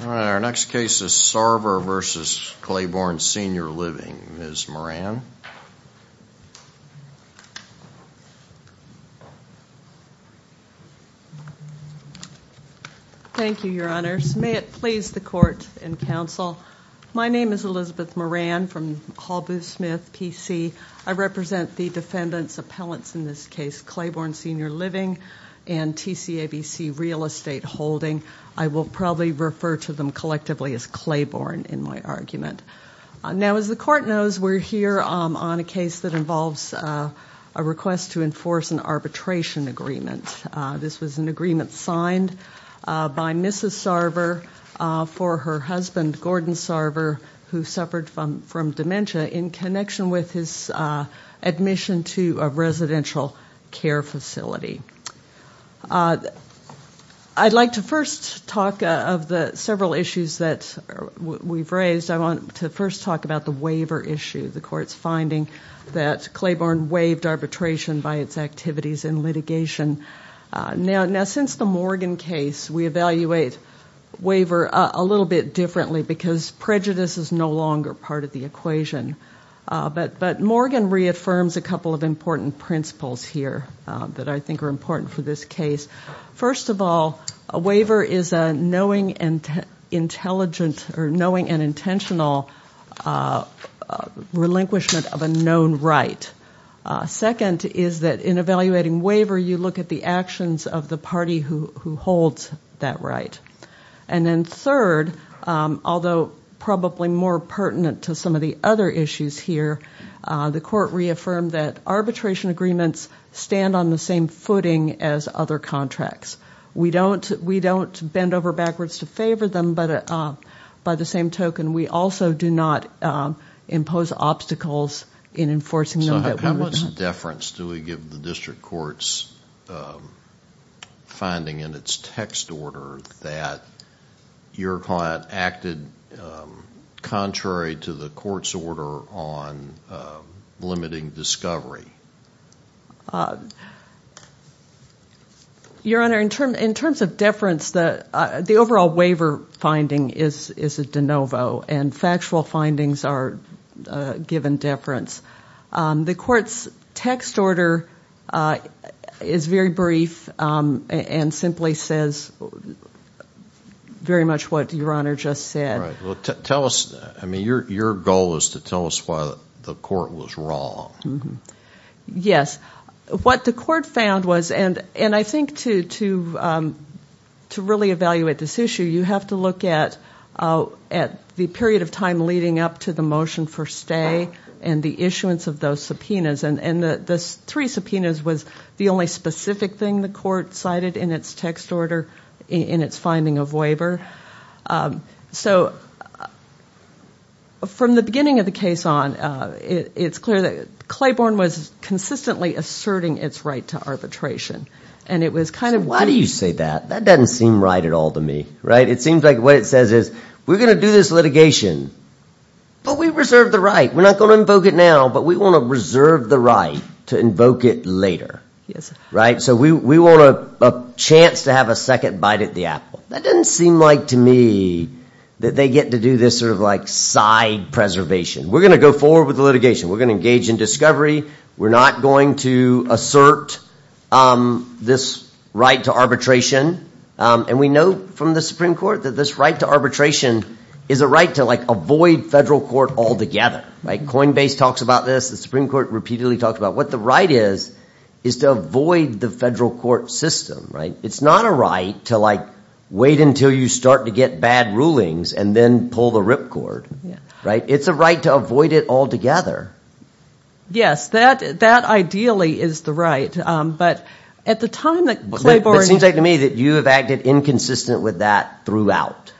Our next case is Sarver v. Claiborne Senior Living, Ms. Moran. Thank you, your honors. May it please the court and counsel. My name is Elizabeth Moran from Hall Booth Smith, PC. I represent the defendant's appellants in this case, Claiborne Senior Living and TCABC Real Estate Holding. I will probably refer to them collectively as Claiborne in my argument. Now, as the court knows, we're here on a case that involves a request to enforce an arbitration agreement. This was an agreement signed by Mrs. Sarver for her husband, Gordon Sarver, who suffered from dementia in connection with his admission to a residential care facility. I'd like to first talk of the several issues that we've raised. I want to first talk about the waiver issue, the court's finding that Claiborne waived arbitration by its activities in litigation. Now, since the Morgan case, we evaluate waiver a little bit differently because prejudice is no longer part of the equation. But Morgan reaffirms a couple of important principles here that I think are important for this case. First of all, a waiver is a knowing and intentional relinquishment of a known right. Second is that in evaluating waiver, you look at the actions of the party who holds that right. And then third, although probably more pertinent to some of the other issues here, the court reaffirmed that arbitration agreements stand on the same footing as other contracts. We don't bend over backwards to favor them, but by the same token, we also do not impose obstacles in enforcing them that we're not. In terms of deference, do we give the district court's finding in its text order that your client acted contrary to the court's order on limiting discovery? Your Honor, in terms of deference, the overall waiver finding is a de novo, and factual findings are given deference. The court's text order is very brief and simply says very much what Your Honor just said. Right. Well, tell us, I mean, your goal is to tell us why the court was wrong. Yes. What the court found was, and I think to really evaluate this issue, you have to look at the period of time leading up to the motion for stay and the issuance of those subpoenas. And the three subpoenas was the only specific thing the court cited in its text order in its finding of waiver. So from the beginning of the case on, it's clear that Claiborne was consistently asserting its right to arbitration. And it was kind of... Why do you say that? That doesn't seem right at all to me. Right? It seems like what it says is, we're going to do this litigation, but we reserve the right. We're not going to invoke it now, but we want to reserve the right to invoke it later. Yes. Right? So we want a chance to have a second bite at the apple. That doesn't seem like to me that they get to do this sort of like side preservation. We're going to go forward with the litigation. We're going to engage in discovery. We're not going to assert this right to arbitration. And we know from the Supreme Court that this right to arbitration is a right to like avoid federal court altogether. Right? Coinbase talks about this. The Supreme Court repeatedly talked about what the right is, is to avoid the federal court system. Right? It's not a right to like wait until you start to get bad rulings and then pull the ripcord. Yeah. Right? It's a right to avoid it altogether. Yes. That ideally is the right. But at the time that Clayborne... It seems like to me that you have acted inconsistent with that throughout.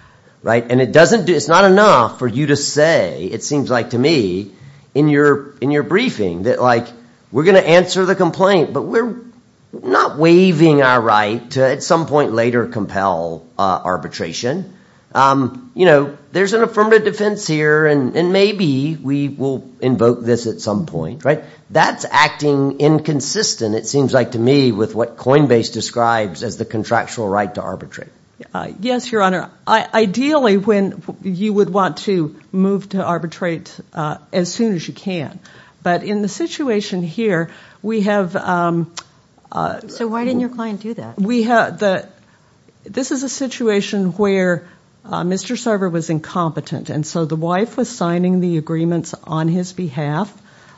Right? And it's not enough for you to say, it seems like to me, in your briefing that like we're going to answer the complaint, but we're not waiving our right to at some point later compel arbitration. You know, there's an affirmative defense here and maybe we will invoke this at some point. Right? That's acting inconsistent, it seems like to me, with what Coinbase describes as the contractual right to arbitrate. Yes, Your Honor. Ideally, when you would want to move to arbitrate as soon as you can. But in the situation here, we have... So why didn't your client do that? We have the... This is a situation where Mr. Sarver was incompetent. And so the wife was signing the agreements on his behalf,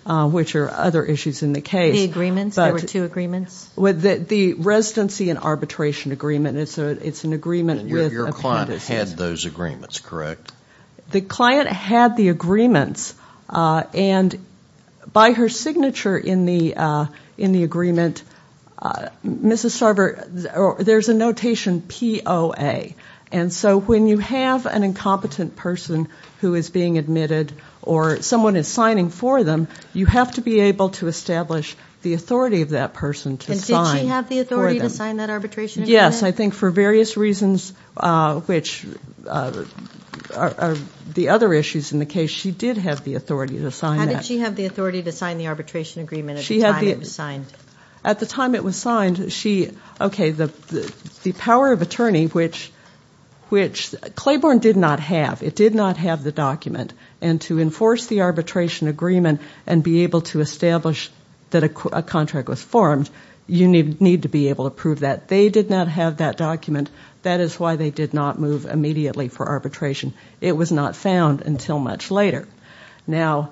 which are other issues in the case. The agreements? There were two agreements? With the residency and arbitration agreement. It's an agreement with... Your client had those agreements, correct? The client had the agreements. And by her signature in the agreement, Mrs. Sarver... There's a notation POA. And so when you have an incompetent person who is being admitted or someone is signing for them, you have to be able to establish the authority of that person to sign for them. And did she have the authority to sign that arbitration agreement? Yes, I think for various reasons, which are the other issues in the case, she did have the authority to sign that. How did she have the authority to sign the arbitration agreement at the time it was signed? At the time it was signed, she... Okay, the power of attorney, which Claiborne did not have. It did not have the document. And to enforce the arbitration agreement and be able to establish that a contract was formed, you need to be able to prove that. They did not have that document. That is why they did not move immediately for arbitration. It was not found until much later. Now,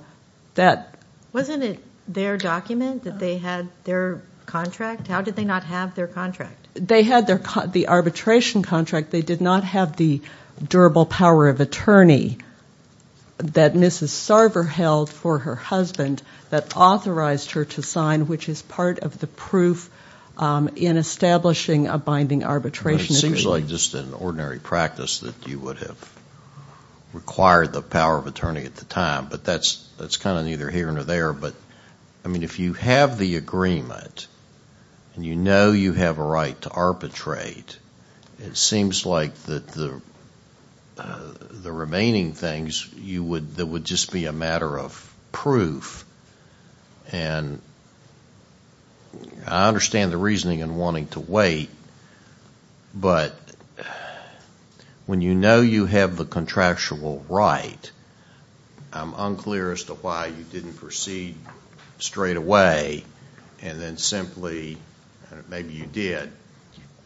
that... Wasn't it their document that they had their contract? How did they not have their contract? They had the arbitration contract. They did not have the durable power of attorney that Mrs. Sarver held for her husband that authorized her to sign, which is part of the proof in establishing a binding arbitration. It seems like just an ordinary practice that you would have required the power of attorney at the time. But that is kind of neither here nor there. But, I mean, if you have the agreement and you know you have a right to arbitrate, it seems like that the remaining things, that would just be a matter of proof. And I understand the reasoning in wanting to wait. But when you know you have the contractual right, I'm unclear as to why you didn't proceed straight away and then simply, maybe you did,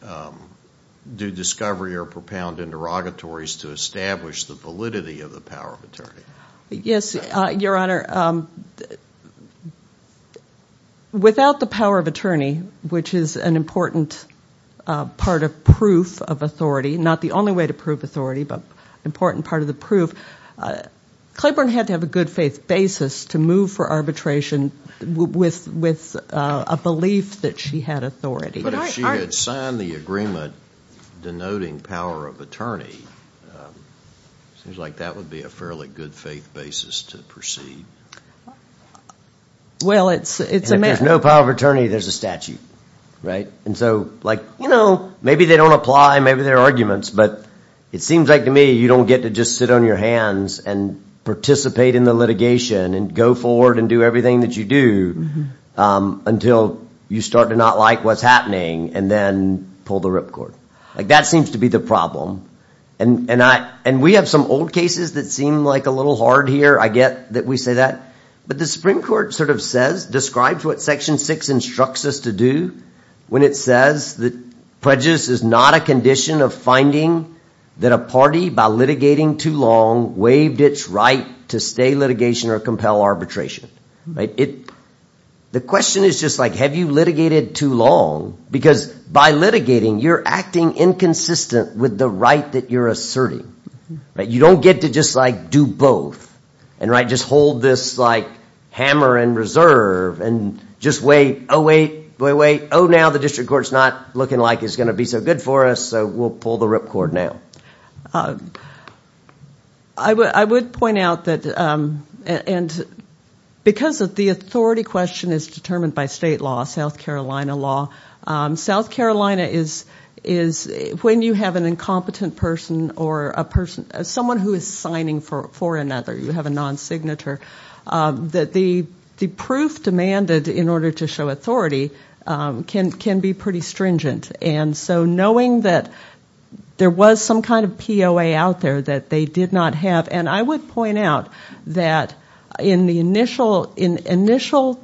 do discovery or propound interrogatories to establish the validity of the power of attorney. Yes, Your Honor. Without the power of attorney, which is an important part of proof of authority, not the only way to prove authority, but an important part of the proof, Claiborne had to have a good faith basis to move for arbitration with a belief that she had authority. But if she had signed the agreement denoting power of attorney, it seems like that would be a fairly good faith basis to proceed. Well, it's a matter of... If there's no power of attorney, there's a statute, right? And so, like, you know, maybe they don't apply, maybe there are arguments, but it seems like to me you don't get to just sit on your hands and participate in the litigation and go forward and do everything that you do until you start to not like what's happening and then pull the ripcord. Like, that seems to be the problem. And we have some old cases that seem like a little hard here, I get that we say that. But the Supreme Court sort of says, describes what Section 6 instructs us to do when it says that prejudice is not a condition of finding that a party, by litigating too long, waived its right to stay litigation or compel arbitration. The question is just, like, have you litigated too long? Because by litigating, you're acting inconsistent with the right that you're asserting. You don't get to just, like, do both. And, right, just hold this, like, hammer and reserve and just wait, oh, wait, oh, wait, oh, now the district court's not looking like it's going to be so good for us, so we'll pull the ripcord now. I would point out that, and because of the authority question is determined by state law, South Carolina law, South Carolina is, when you have an incompetent person or a person, someone who is signing for another, you have a non-signature, that the proof demanded in order to show authority can be pretty stringent. And so knowing that there was some kind of POA out there that they did not have, and I would point out that in the initial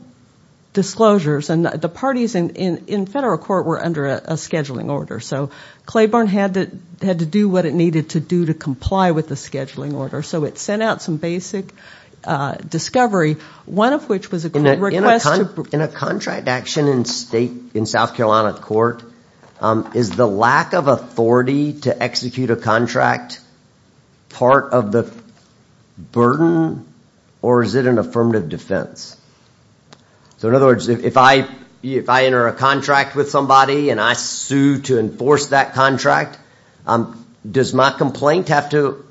disclosures, and the parties in federal court were under a scheduling order, so Claiborne had to do what it needed to do to comply with the scheduling order. So it sent out some basic discovery, one of which was a court request to... In a contract action in South Carolina court, is the lack of authority to execute a contract part of the burden, or is it an affirmative defense? So in other words, if I enter a contract with somebody, and I sue to enforce that contract, does my complaint have to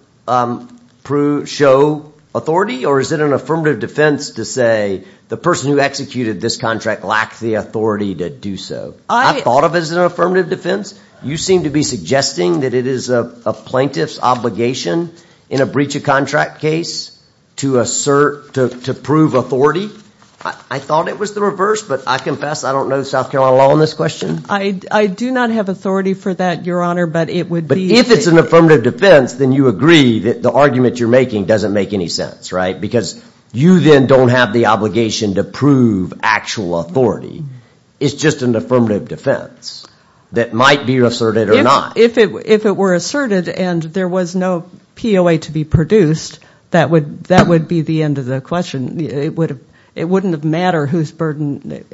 show authority, or is it an affirmative defense to say, the person who executed this contract lacked the authority to do so? I thought of it as an affirmative defense. You seem to be suggesting that it is a plaintiff's obligation in a breach of contract case to assert, to prove authority. I thought it was the reverse, but I confess I don't know South Carolina law on this question. I do not have authority for that, Your Honor, but it would be... But if it's an affirmative defense, then you agree that the argument you're making doesn't make any sense, right? Because you then don't have the obligation to prove actual authority. It's just an affirmative defense that might be asserted or not. If it were asserted and there was no POA to be produced, that would be the end of the question. It wouldn't have mattered whose burden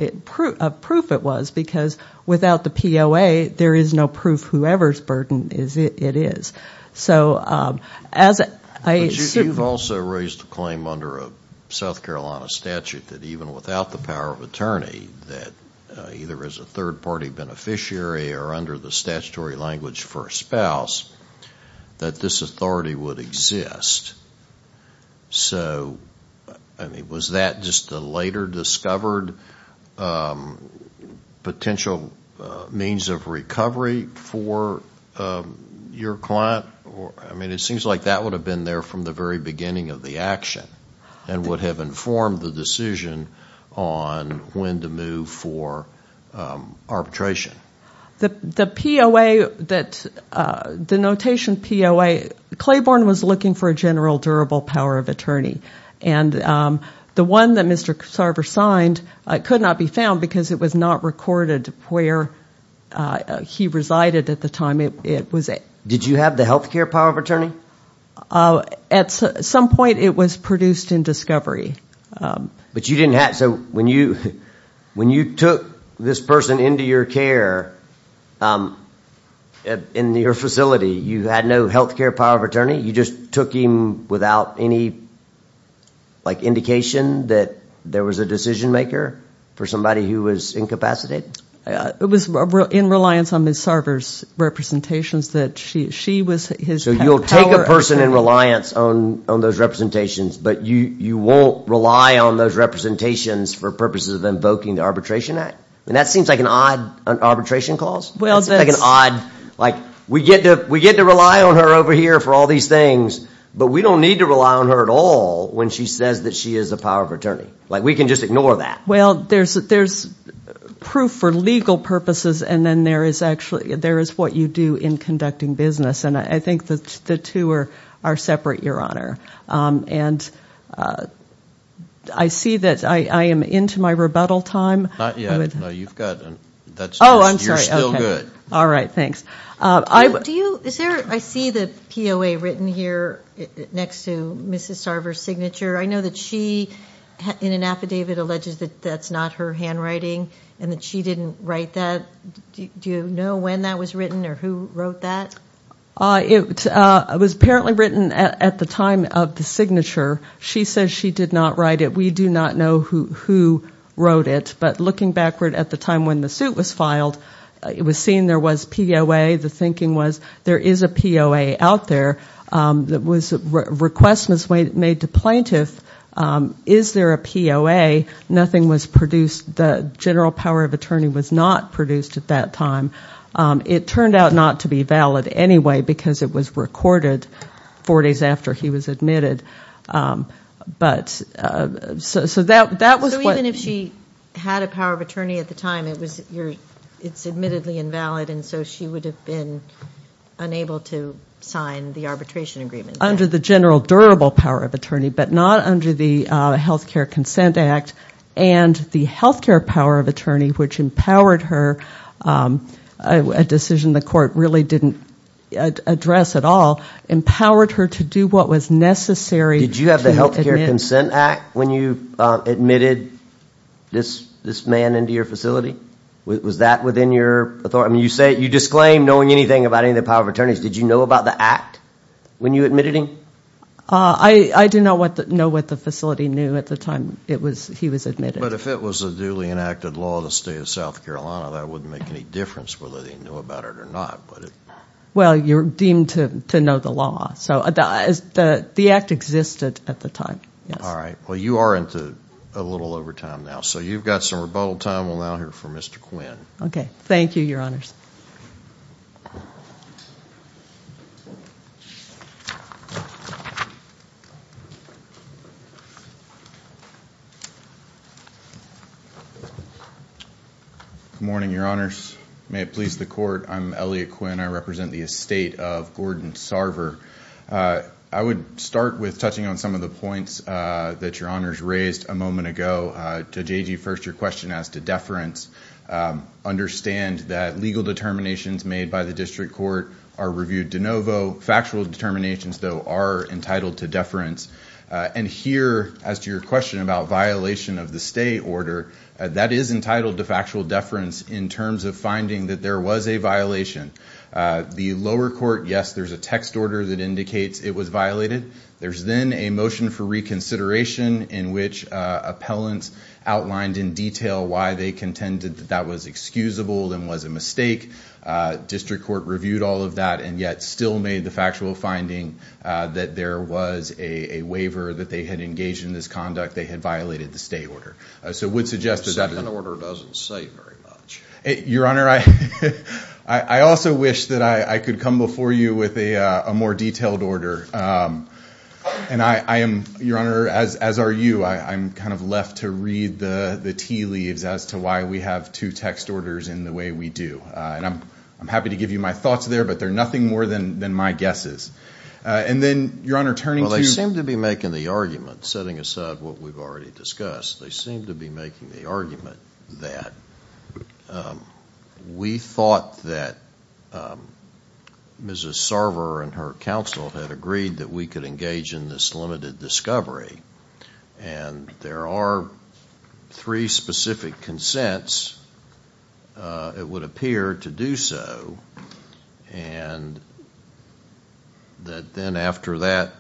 of proof it was, because without the POA, there is no proof whoever's burden it is. So as I assume... But you've also raised a claim under a South Carolina statute that even without the power of attorney, that either as a third-party beneficiary or under the statutory language for a spouse, that this authority would exist. So, I mean, was that just a later discovered potential means of recovery for your client? I mean, it seems like that would have been there from the very beginning of the action and would have informed the decision on when to move for arbitration. The POA that... The notation POA... Claiborne was looking for a general durable power of attorney. And the one that Mr. Sarver signed could not be found because it was not recorded where he resided at the time. Did you have the health care power of attorney? At some point, it was produced in discovery. But you didn't have... So when you took this person into your care, in your facility, you had no health care power of attorney? You just took him without any indication that there was a decision maker for somebody who was incapacitated? It was in reliance on Ms. Sarver's representations that she was his... So you'll take a person in reliance on those representations, but you won't rely on those representations for purposes of invoking the Arbitration Act? And that seems like an odd arbitration clause. It's like an odd... Like, we get to rely on her over here for all these things, but we don't need to rely on her at all when she says that she is a power of attorney. Like, we can just ignore that. Well, there's proof for legal purposes, and then there is what you do in conducting business. And I think the two are separate, Your Honor. I see that I am into my rebuttal time. Not yet. No, you've got... Oh, I'm sorry. You're still good. All right, thanks. Do you... I see the POA written here next to Ms. Sarver's signature. I know that she, in an affidavit, alleges that that's not her handwriting, and that she didn't write that. Do you know when that was written, or who wrote that? It was apparently written at the time of the signature. She says she did not write it. We do not know who wrote it, but looking backward at the time when the suit was filed, it was seen there was POA. The thinking was, there is a POA out there. A request was made to plaintiff, is there a POA? Nothing was produced. The general power of attorney was not produced at that time. It turned out not to be valid anyway, because it was recorded four days after he was admitted. So that was what... So even if she had a power of attorney at the time, it's admittedly invalid, and so she would have been unable to sign the arbitration agreement? Under the general durable power of attorney, but not under the Health Care Consent Act, and the health care power of attorney, which empowered her, a decision the court really didn't address at all, empowered her to do what was necessary. Did you have the Health Care Consent Act when you admitted this man into your facility? Was that within your authority? You disclaim knowing anything about any of the power of attorneys. Did you know about the act when you admitted him? I didn't know what the facility knew at the time he was admitted. But if it was a duly enacted law of the state of South Carolina, that wouldn't make any difference whether they knew about it or not. Well, you're deemed to know the law. So the act existed at the time. All right. Well, you are into a little over time now. So you've got some rebuttal time. We'll now hear from Mr. Quinn. Okay. Thank you, Your Honors. Good morning, Your Honors. May it please the court, I'm Elliot Quinn. I represent the estate of Gordon Sarver. I would start with touching on some of the points that Your Honors raised a moment ago. Judge Agee, first your question as to deference. Understand that legal determinations made by the district court are reviewed de novo. Factual determinations, though, are entitled to deference. And here, as to your question about violation of the state order, that is entitled to factual deference in terms of finding that there was a violation. The lower court, yes, there's a text order that indicates it was violated. There's then a motion for reconsideration in which appellants outlined in detail why they contended that that was excusable and was a mistake. District court reviewed all of that and yet still made the factual finding that there was a waiver that they had engaged in this conduct. They had violated the state order. The second order doesn't say very much. Your Honor, I also wish that I could come before you with a more detailed order. Your Honor, as are you, I'm kind of left to read the tea leaves as to why we have two text orders in the way we do. I'm happy to give you my thoughts there, but they're nothing more than my guesses. They seem to be making the argument, setting aside what we've already discussed. They seem to be making the argument that we thought that Mrs. Sarver and her counsel had agreed that we could engage in this limited discovery. And there are three specific consents, it would appear, to do so. And that then after that,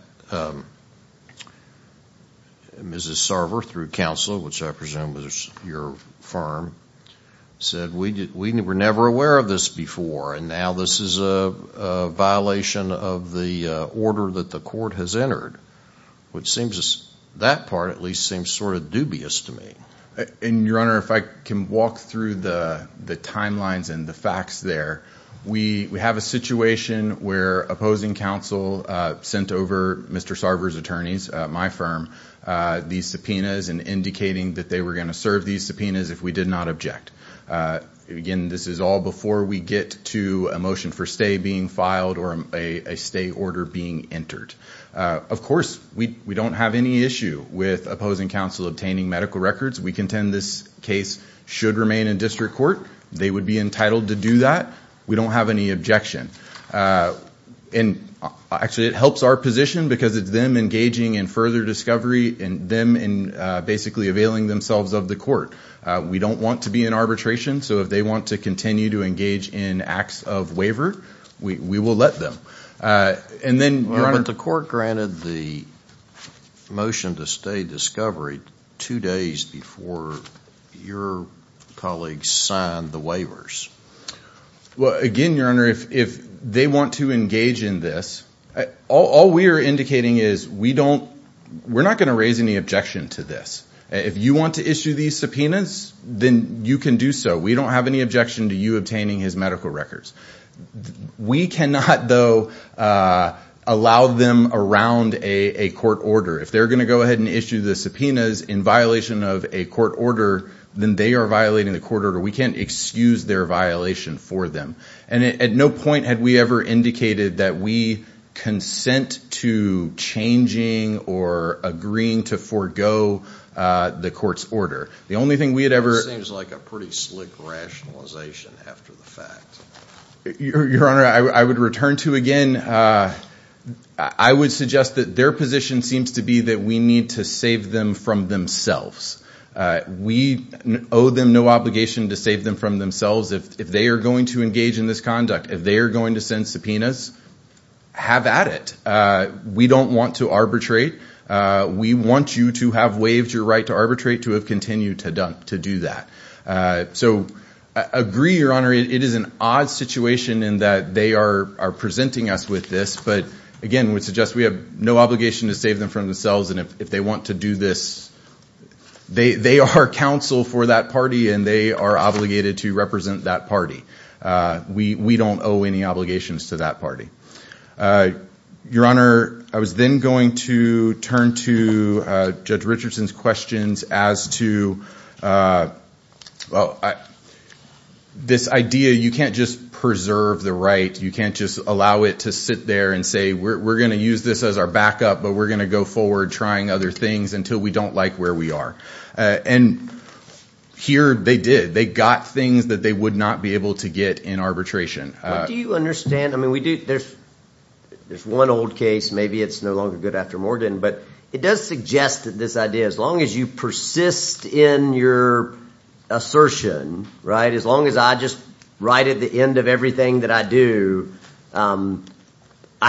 Mrs. Sarver, through counsel, which I presume was your firm, said we were never aware of this before and now this is a violation of the order that the court has entered. That part, at least, seems sort of dubious to me. Your Honor, if I can walk through the timelines and the facts there. We have a situation where opposing counsel sent over Mr. Sarver's attorneys, my firm, these subpoenas and indicating that they were going to serve these subpoenas if we did not object. Again, this is all before we get to a motion for stay being filed or a stay order being entered. Of course, we don't have any issue with opposing counsel obtaining medical records. We contend this case should remain in district court. They would be entitled to do that. We don't have any objection. Actually, it helps our position because it's them engaging in further discovery and them basically availing themselves of the court. We don't want to be in arbitration, so if they want to continue to engage in acts of waiver, we will let them. But the court granted the motion to stay discovery two days before your colleagues signed the waivers. Again, Your Honor, if they want to engage in this, all we are indicating is we're not going to raise any objection to this. If you want to issue these subpoenas, then you can do so. We don't have any objection to you obtaining his medical records. We cannot, though, allow them around a court order. If they're going to go ahead and issue the subpoenas in violation of a court order, then they are violating the court order. We can't excuse their violation for them. At no point had we ever indicated that we consent to changing or agreeing to forego the court's order. It seems like a pretty slick rationalization after the fact. Your Honor, I would return to, again, I would suggest that their position seems to be that we need to save them from themselves. We owe them no obligation to save them from themselves. If they are going to engage in this conduct, if they are going to send subpoenas, have at it. We don't want to arbitrate. We want you to have waived your right to arbitrate to have continued to do that. Agree, Your Honor, it is an odd situation in that they are presenting us with this, but again, we suggest we have no obligation to save them from themselves. They are counsel for that party and they are obligated to represent that party. We don't owe any obligations to that party. Your Honor, I was then going to turn to Judge Richardson's questions as to this idea you can't just preserve the right, you can't just allow it to sit there and say we are going to use this as our backup but we are going to go forward trying other things until we don't like where we are. Here they did. They got things that they would not be able to get in arbitration. There is one old case, maybe it is no longer good after Morgan, but it does suggest that this idea, as long as you persist in your assertion, as long as I just write at the end of everything that I do, I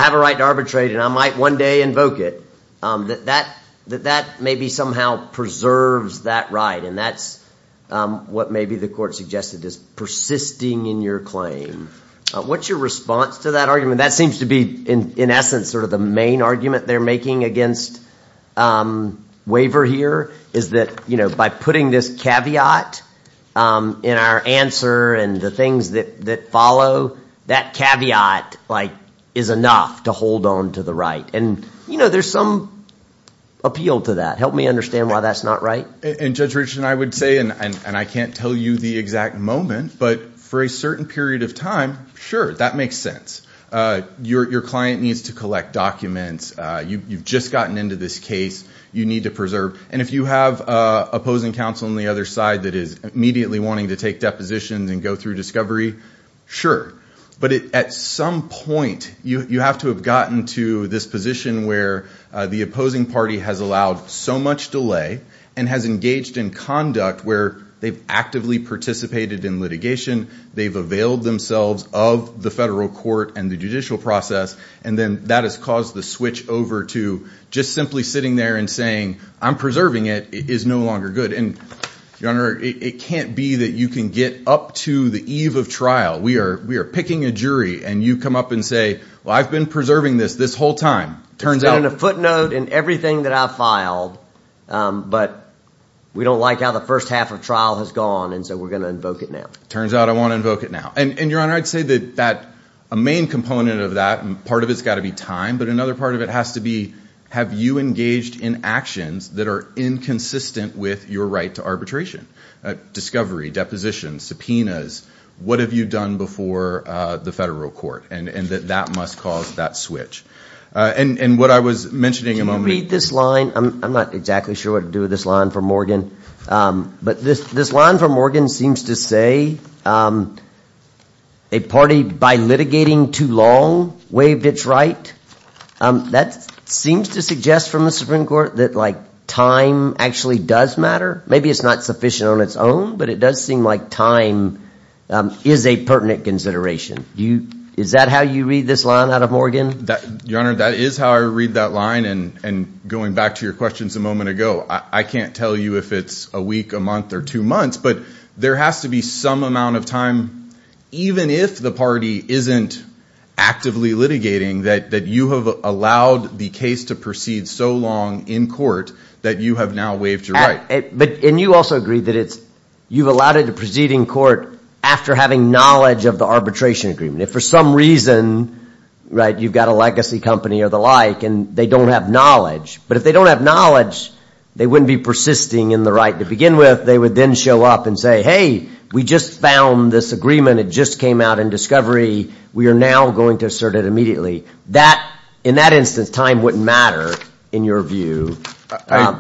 have a right to arbitrate and I might one day invoke it, that maybe somehow preserves that right and that is what maybe the court suggested is persisting in your claim. What is your response to that argument? That seems to be in essence the main argument they are making against waiver here is that by putting this caveat in our answer and the things that follow that caveat is enough to hold on to the right. There is some appeal to that. Help me understand why that is not right. I can't tell you the exact moment but for a certain period of time, sure, that makes sense. Your client needs to collect documents. You have just gotten into this case. You need to preserve. If you have opposing counsel on the other side that is immediately wanting to take depositions and go through discovery, sure, but at some point you have to have gotten to this position where the opposing party has allowed so much delay and has engaged in conduct where they have actively participated in litigation, they have availed themselves of the federal court and the judicial process and then that has caused the switch over to just simply sitting there and saying I am preserving it is no longer good. It can't be that you can get up to the eve of trial. We are picking a jury and you come up and say I have been preserving this this whole time. It's been in a footnote in everything that I have filed but we don't like how the first half of trial has gone so we are going to invoke it now. It turns out I want to invoke it now. A main component of that, part of it has to be time but another part of it has to be have you engaged in actions that are inconsistent with your right to arbitration, discovery, depositions, subpoenas, what have you done before the federal court and that must cause that switch. What I was mentioning a moment ago... Can you read this line? This line from Morgan seems to say a party by litigating too long waived its right. That seems to suggest from the Supreme Court that time actually does matter. Maybe it's not sufficient on its own but it does seem like time is a pertinent consideration. Is that how you read this line out of Morgan? Your Honor, that is how I read that line and going back to your questions a moment ago I can't tell you if it's a week, a month or two months but there has to be some amount of time even if the party isn't actively litigating that you have allowed the case to proceed so long in court that you have now waived your right. And you also agree that you've allowed it to proceed in court after having knowledge of the arbitration agreement. If for some reason you've got a legacy company or the like and they don't have knowledge but if they don't have knowledge they wouldn't be persisting in the right to begin with they would then show up and say, hey, we just found this agreement, it just came out in discovery we are now going to assert it immediately. In that instance, time wouldn't matter in your view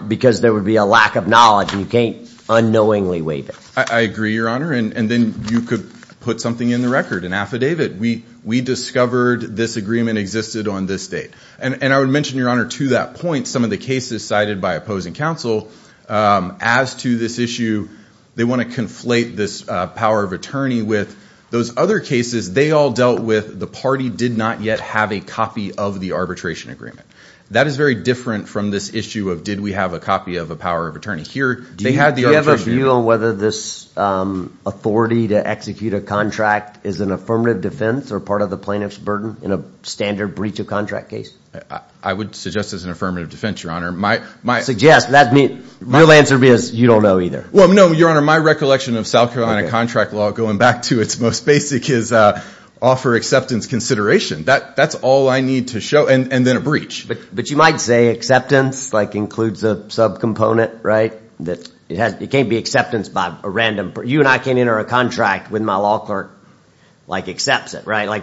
because there would be a lack of knowledge and you can't unknowingly waive it. I agree, Your Honor, and then you could put something in the record an affidavit, we discovered this agreement existed on this date. And I would mention, Your Honor, to that point some of the cases cited by opposing counsel as to this issue, they want to conflate this power of attorney with those other cases they all dealt with the party did not yet have a copy of the arbitration agreement. That is very different from this issue of did we have a copy of a power of attorney? Do you have a view on whether this authority to execute a contract is an affirmative defense or part of the plaintiff's burden in a standard breach of contract case? I would suggest it's an affirmative defense, Your Honor. Suggest? The real answer is you don't know either. No, Your Honor, my recollection of South Carolina contract law going back to its most basic is offer acceptance consideration. That's all I need to show and then a breach. But you might say acceptance includes a sub-component, right? It can't be acceptance by a random person. You and I can't enter a contract when my law clerk accepts it, right?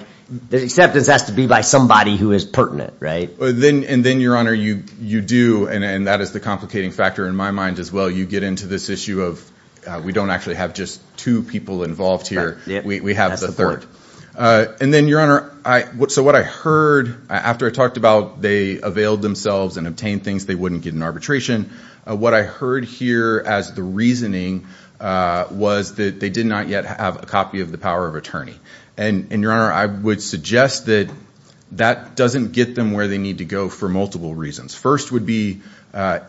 The acceptance has to be by somebody who is pertinent, right? And then, Your Honor, you do and that is the complicating factor in my mind as well you get into this issue of we don't actually have just two people involved here. We have the third. And then, Your Honor, so what I heard after I talked about they availed themselves and obtained things they wouldn't get in arbitration, what I heard here as the reasoning was that they did not yet have a copy of the power of attorney. And, Your Honor, I would suggest that that doesn't get them where they need to go for multiple reasons. First would be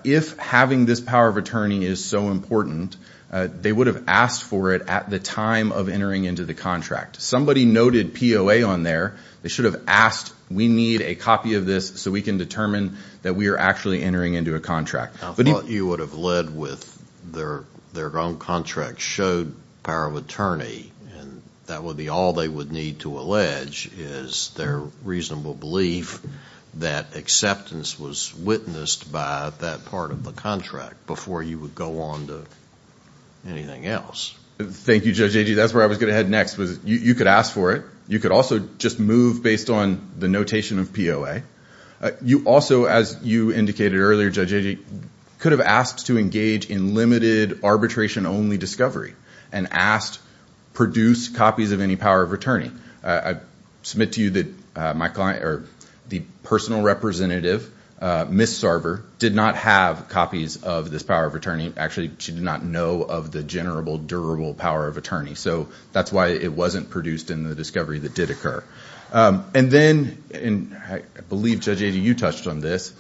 if having this power of attorney is so important they would have asked for it at the time of entering into the contract. Somebody noted POA on there they should have asked, we need a copy of this so we can determine that we are actually entering into a contract. I thought you would have led with their own contract showed power of attorney and that would be all they would need to allege is their reasonable belief that acceptance was witnessed by that part of the contract before you would go on to anything else. Thank you, Judge Agee. That's where I was going to head next. You could ask for it. You could also just move based on the notation of POA. You also, as you indicated earlier, Judge Agee could have asked to engage in limited arbitration only discovery and asked produce copies of any power of attorney. I submit to you that the personal representative Ms. Sarver did not have copies of this power of attorney. Actually, she did not know of the general durable power of attorney. That's why it wasn't produced in the discovery that did occur. I believe Judge Agee, you touched on this.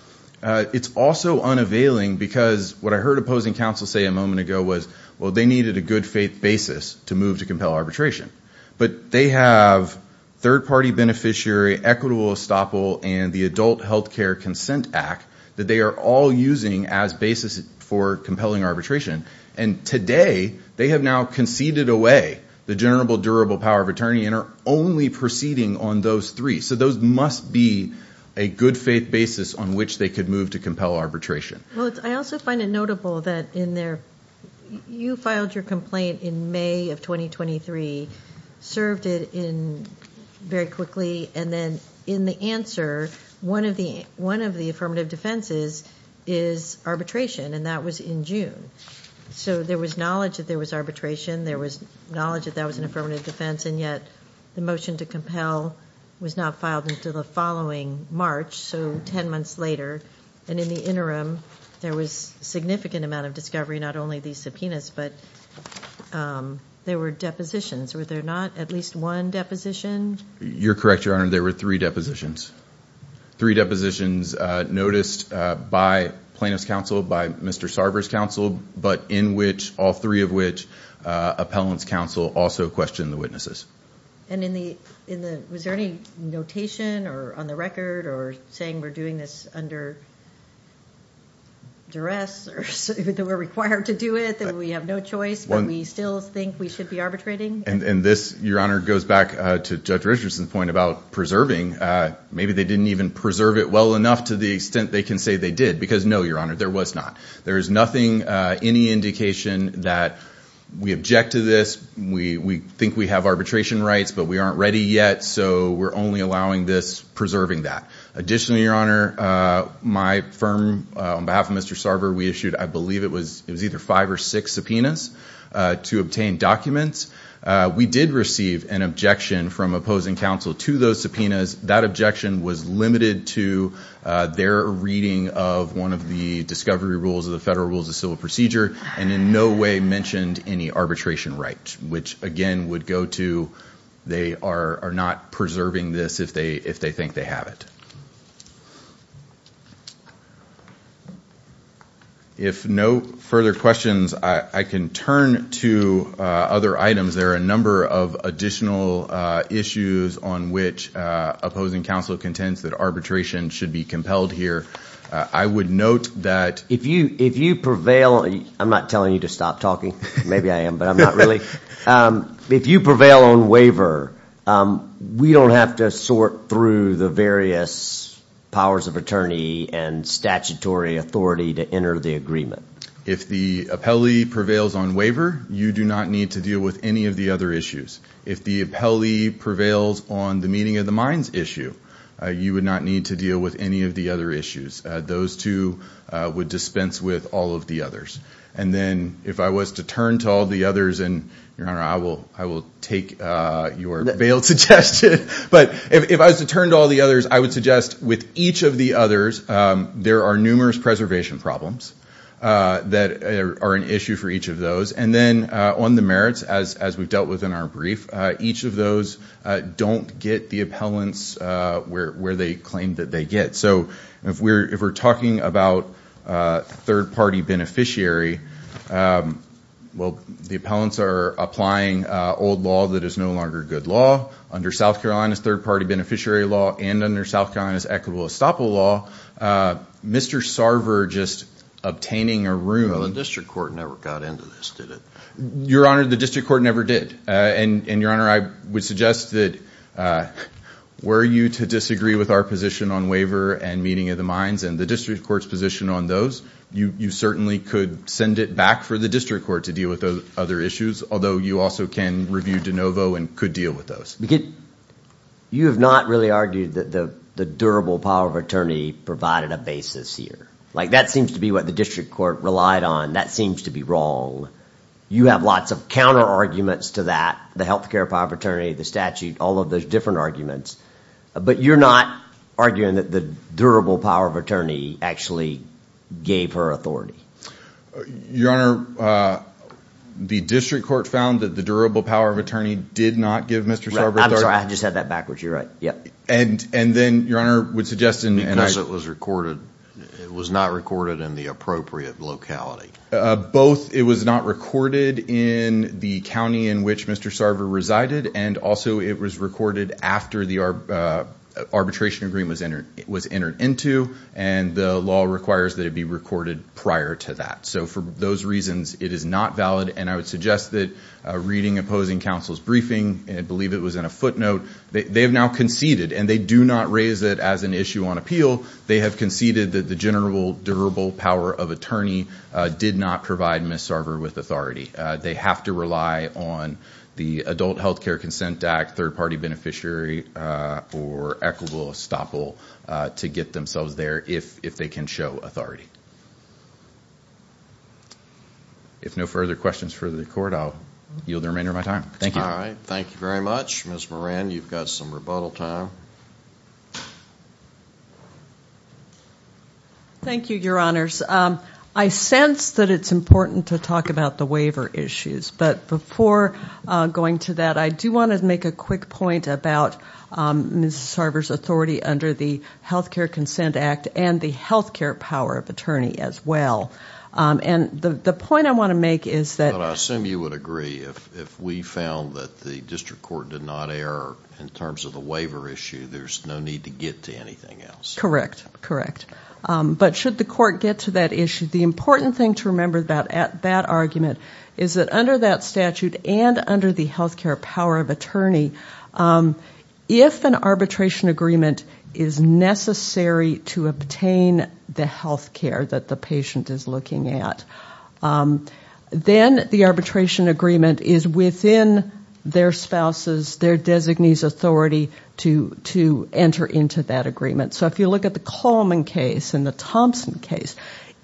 It's also unavailing because what I heard opposing counsel say a moment ago was they needed a good faith basis to move to compel arbitration. They have third party beneficiary equitable estoppel and the adult health care consent act that they are all using as basis for compelling arbitration. Today, they have now conceded away the general durable power of attorney and are only proceeding on those three. Those must be a good faith basis on which they could move to compel arbitration. I also find it notable that you filed your complaint in May of 2023 served it very quickly and then in the answer one of the affirmative defenses is arbitration and that was in June. There was knowledge that there was arbitration there was knowledge that that was an affirmative defense and yet the motion to compel was not filed until the following March, so ten months later. In the interim, there was significant amount of discovery not only these subpoenas but there were depositions. Were there not at least one deposition? You're correct, Your Honor. There were three depositions. Three depositions noticed by plaintiff's counsel, by Mr. Sarber's counsel but in which all three of which appellant's counsel also questioned the witnesses. Was there any notation on the record or saying we're doing this under duress or that we're required to do it that we have no choice but we still think we should be arbitrating? Your Honor, this goes back to Judge Richardson's point about preserving. Maybe they didn't even because no, Your Honor, there was not. There is nothing any indication that we object to this we think we have arbitration rights but we aren't ready yet so we're only allowing this, preserving that. Additionally, Your Honor, my firm on behalf of Mr. Sarber, we issued I believe it was either five or six subpoenas to obtain documents. We did receive an objection from opposing counsel to those subpoenas. That objection was limited to their reading of one of the discovery rules of the Federal Rules of Civil Procedure and in no way mentioned any arbitration rights which again would go to they are not preserving this if they think they have it. If no further questions, I can turn to other items. There are a number of additional issues on which opposing counsel contends that arbitration should be compelled here. I would note that If you prevail, I'm not telling you to stop talking maybe I am but I'm not really. If you prevail on waiver, we don't have to sort through the various powers of attorney and statutory authority to enter the agreement. If the appellee prevails on waiver you do not need to deal with any of the other issues. If the appellee prevails on the meeting of the minds issue you would not need to deal with any of the other issues. Those two would dispense with all of the others. And then if I was to turn to all the others I will take your bail suggestion but if I was to turn to all the others I would suggest with each of the others there are numerous preservation problems that are an issue for each of those. And then on the merits as we have dealt with in our brief each of those don't get the appellants where they claim that they get. If we are talking about third party beneficiary the appellants are applying old law that is no longer good law under South Carolina's third party beneficiary law and under South Carolina's equitable estoppel law Mr. Sarver just obtaining a room The district court never got into this did it? Your honor the district court never did. And your honor I would suggest that were you to disagree with our position on waiver and meeting of the minds and the district court's position on those you certainly could send it back for the district court to deal with those other issues although you also can review de novo and could deal with those. You have not really argued that the durable power of attorney provided a basis here. Like that seems to be what the district court relied on. That seems to be wrong. You have lots of counter arguments to that. The healthcare power of attorney, the statute, all of those different arguments. But you're not arguing that the durable power of attorney actually gave her authority. Your honor the district court found that the durable power of attorney did not give Mr. Sarver authority. I'm sorry I just had that backwards. You're right. And then your honor would suggest Because it was not recorded in the appropriate locality. Both it was not recorded in the county in which Mr. Sarver resided and also it was recorded after the arbitration agreement was entered into and the law requires that it be recorded prior to that. So for those reasons it is not valid and I would suggest that reading opposing counsel's briefing and I believe it was in a footnote. They have now conceded and they do not raise it as an issue on appeal. They have conceded that the general durable power of attorney did not provide Ms. Sarver with authority. They have to rely on the adult healthcare consent act third party beneficiary or equitable estoppel to get themselves there if they can show authority. If no further questions for the court I'll yield the remainder of my time. Thank you very much. Ms. Moran you've got some rebuttal time. Thank you your honors. I sense that it's important to talk about the waiver issues but before going to that I do want to make a quick point about Ms. Sarver's authority under the healthcare consent act and the healthcare power of attorney as well. I assume you would agree if we found that the district court did not err in terms of the waiver issue there's no need to get to anything else. But should the court get to that issue the important thing to remember about that argument is that under that statute and under the healthcare power of attorney if an arbitration agreement is necessary to obtain the healthcare that the patient is looking at then the arbitration agreement is within their spouse's their designee's authority to enter into that agreement. So if you look at the Coleman case and the Thompson case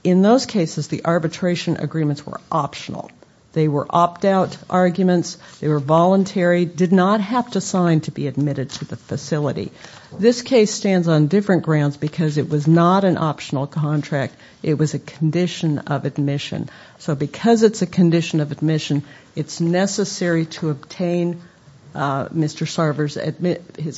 in those cases the arbitration agreements were optional. They were opt out arguments. They were voluntary. Did not have to sign to be admitted to the facility. This case stands on different grounds because it was not an optional contract it was a condition of admission. So because it's a condition of admission it's necessary to obtain Mr. Sarver's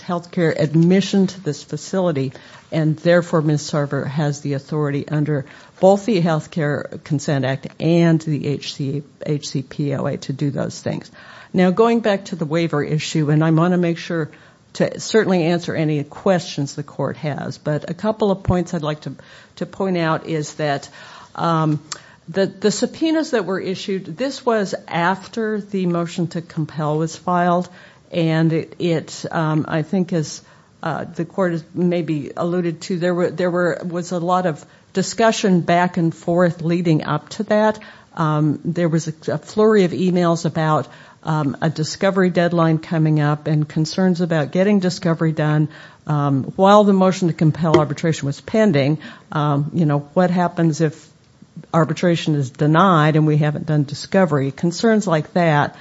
healthcare admission to this facility and therefore Ms. Sarver has the authority under both the healthcare consent act and the HCPOA to do those things. Now going back to the waiver issue and I want to make sure to certainly answer any questions the court has but a couple of points I'd like to point out is that the subpoenas that were issued this was after the motion to compel was filed and I think as the court maybe alluded to there was a lot of discussion back and forth leading up to that there was a flurry of emails about a discovery deadline coming up and concerns about getting discovery done while the motion to compel arbitration was pending what happens if arbitration is denied and we haven't done discovery. Concerns like that.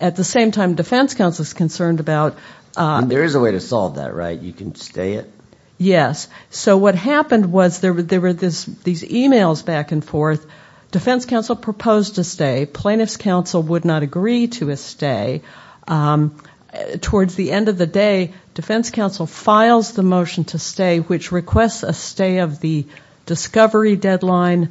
At the same time defense counsel is concerned about There is a way to solve that right? You can stay it? Yes. So what happened was there were these emails back and forth defense counsel proposed to stay plaintiff's counsel would not agree to a stay towards the end of the day defense counsel files the motion to stay which requests a stay of the discovery deadline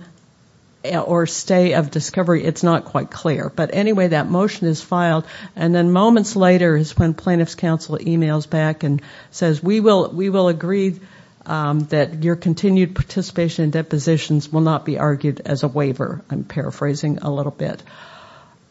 or stay of discovery it's not quite clear but anyway that motion is filed and then moments later is when plaintiff's counsel emails back and says we will agree that your continued participation in depositions will not be argued as a waiver. I'm paraphrasing a little bit.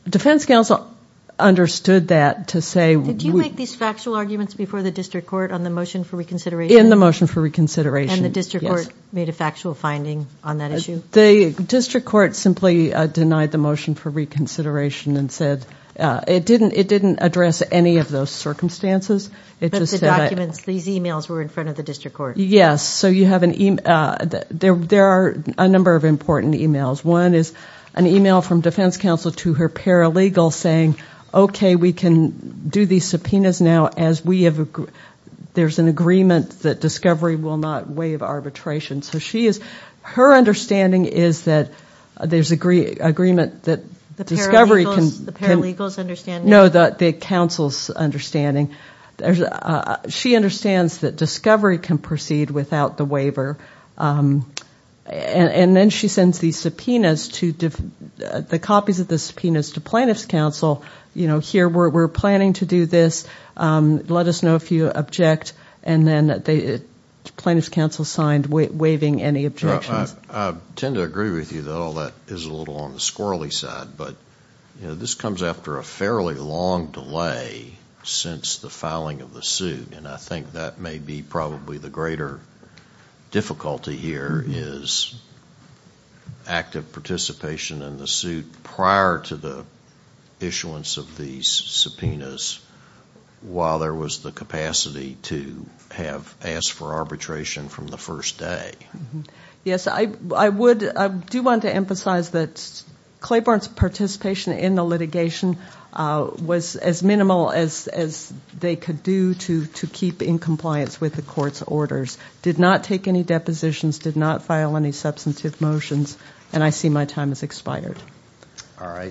Defense counsel understood that Did you make these factual arguments before the district court on the motion for reconsideration? In the motion for reconsideration and the district court made a factual finding on that issue? The district court simply denied the motion for reconsideration and said it didn't address any of those circumstances. These emails were in front of the district court? Yes. There are a number of important emails One is an email from defense counsel to her paralegal saying okay we can do these subpoenas now as there is an agreement that discovery will not waive arbitration Her understanding is that there is agreement that discovery The paralegal's understanding? No the counsel's understanding She understands that discovery can proceed without the waiver and then she sends these subpoenas the copies of the subpoenas to plaintiff's counsel here we are planning to do this let us know if you object and then plaintiff's counsel signed waiving any objections I tend to agree with you that all that is a little on the squirrely side but this comes after a fairly long delay since the filing of the suit and I think that may be probably the greater difficulty here is active participation in the suit prior to the issuance of these subpoenas while there was the capacity to have asked for arbitration from the first day I do want to emphasize that Claiborne's participation in the litigation was as minimal as they could do to keep in compliance with the court's orders did not take any depositions did not file any substantive motions and I see my time has expired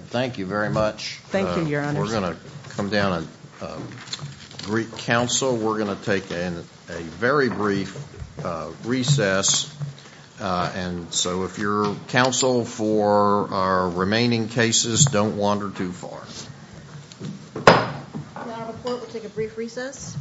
Thank you very much Thank you, your honor We're going to take a very brief recess and so if your counsel for our remaining cases don't wander too far We'll take a brief recess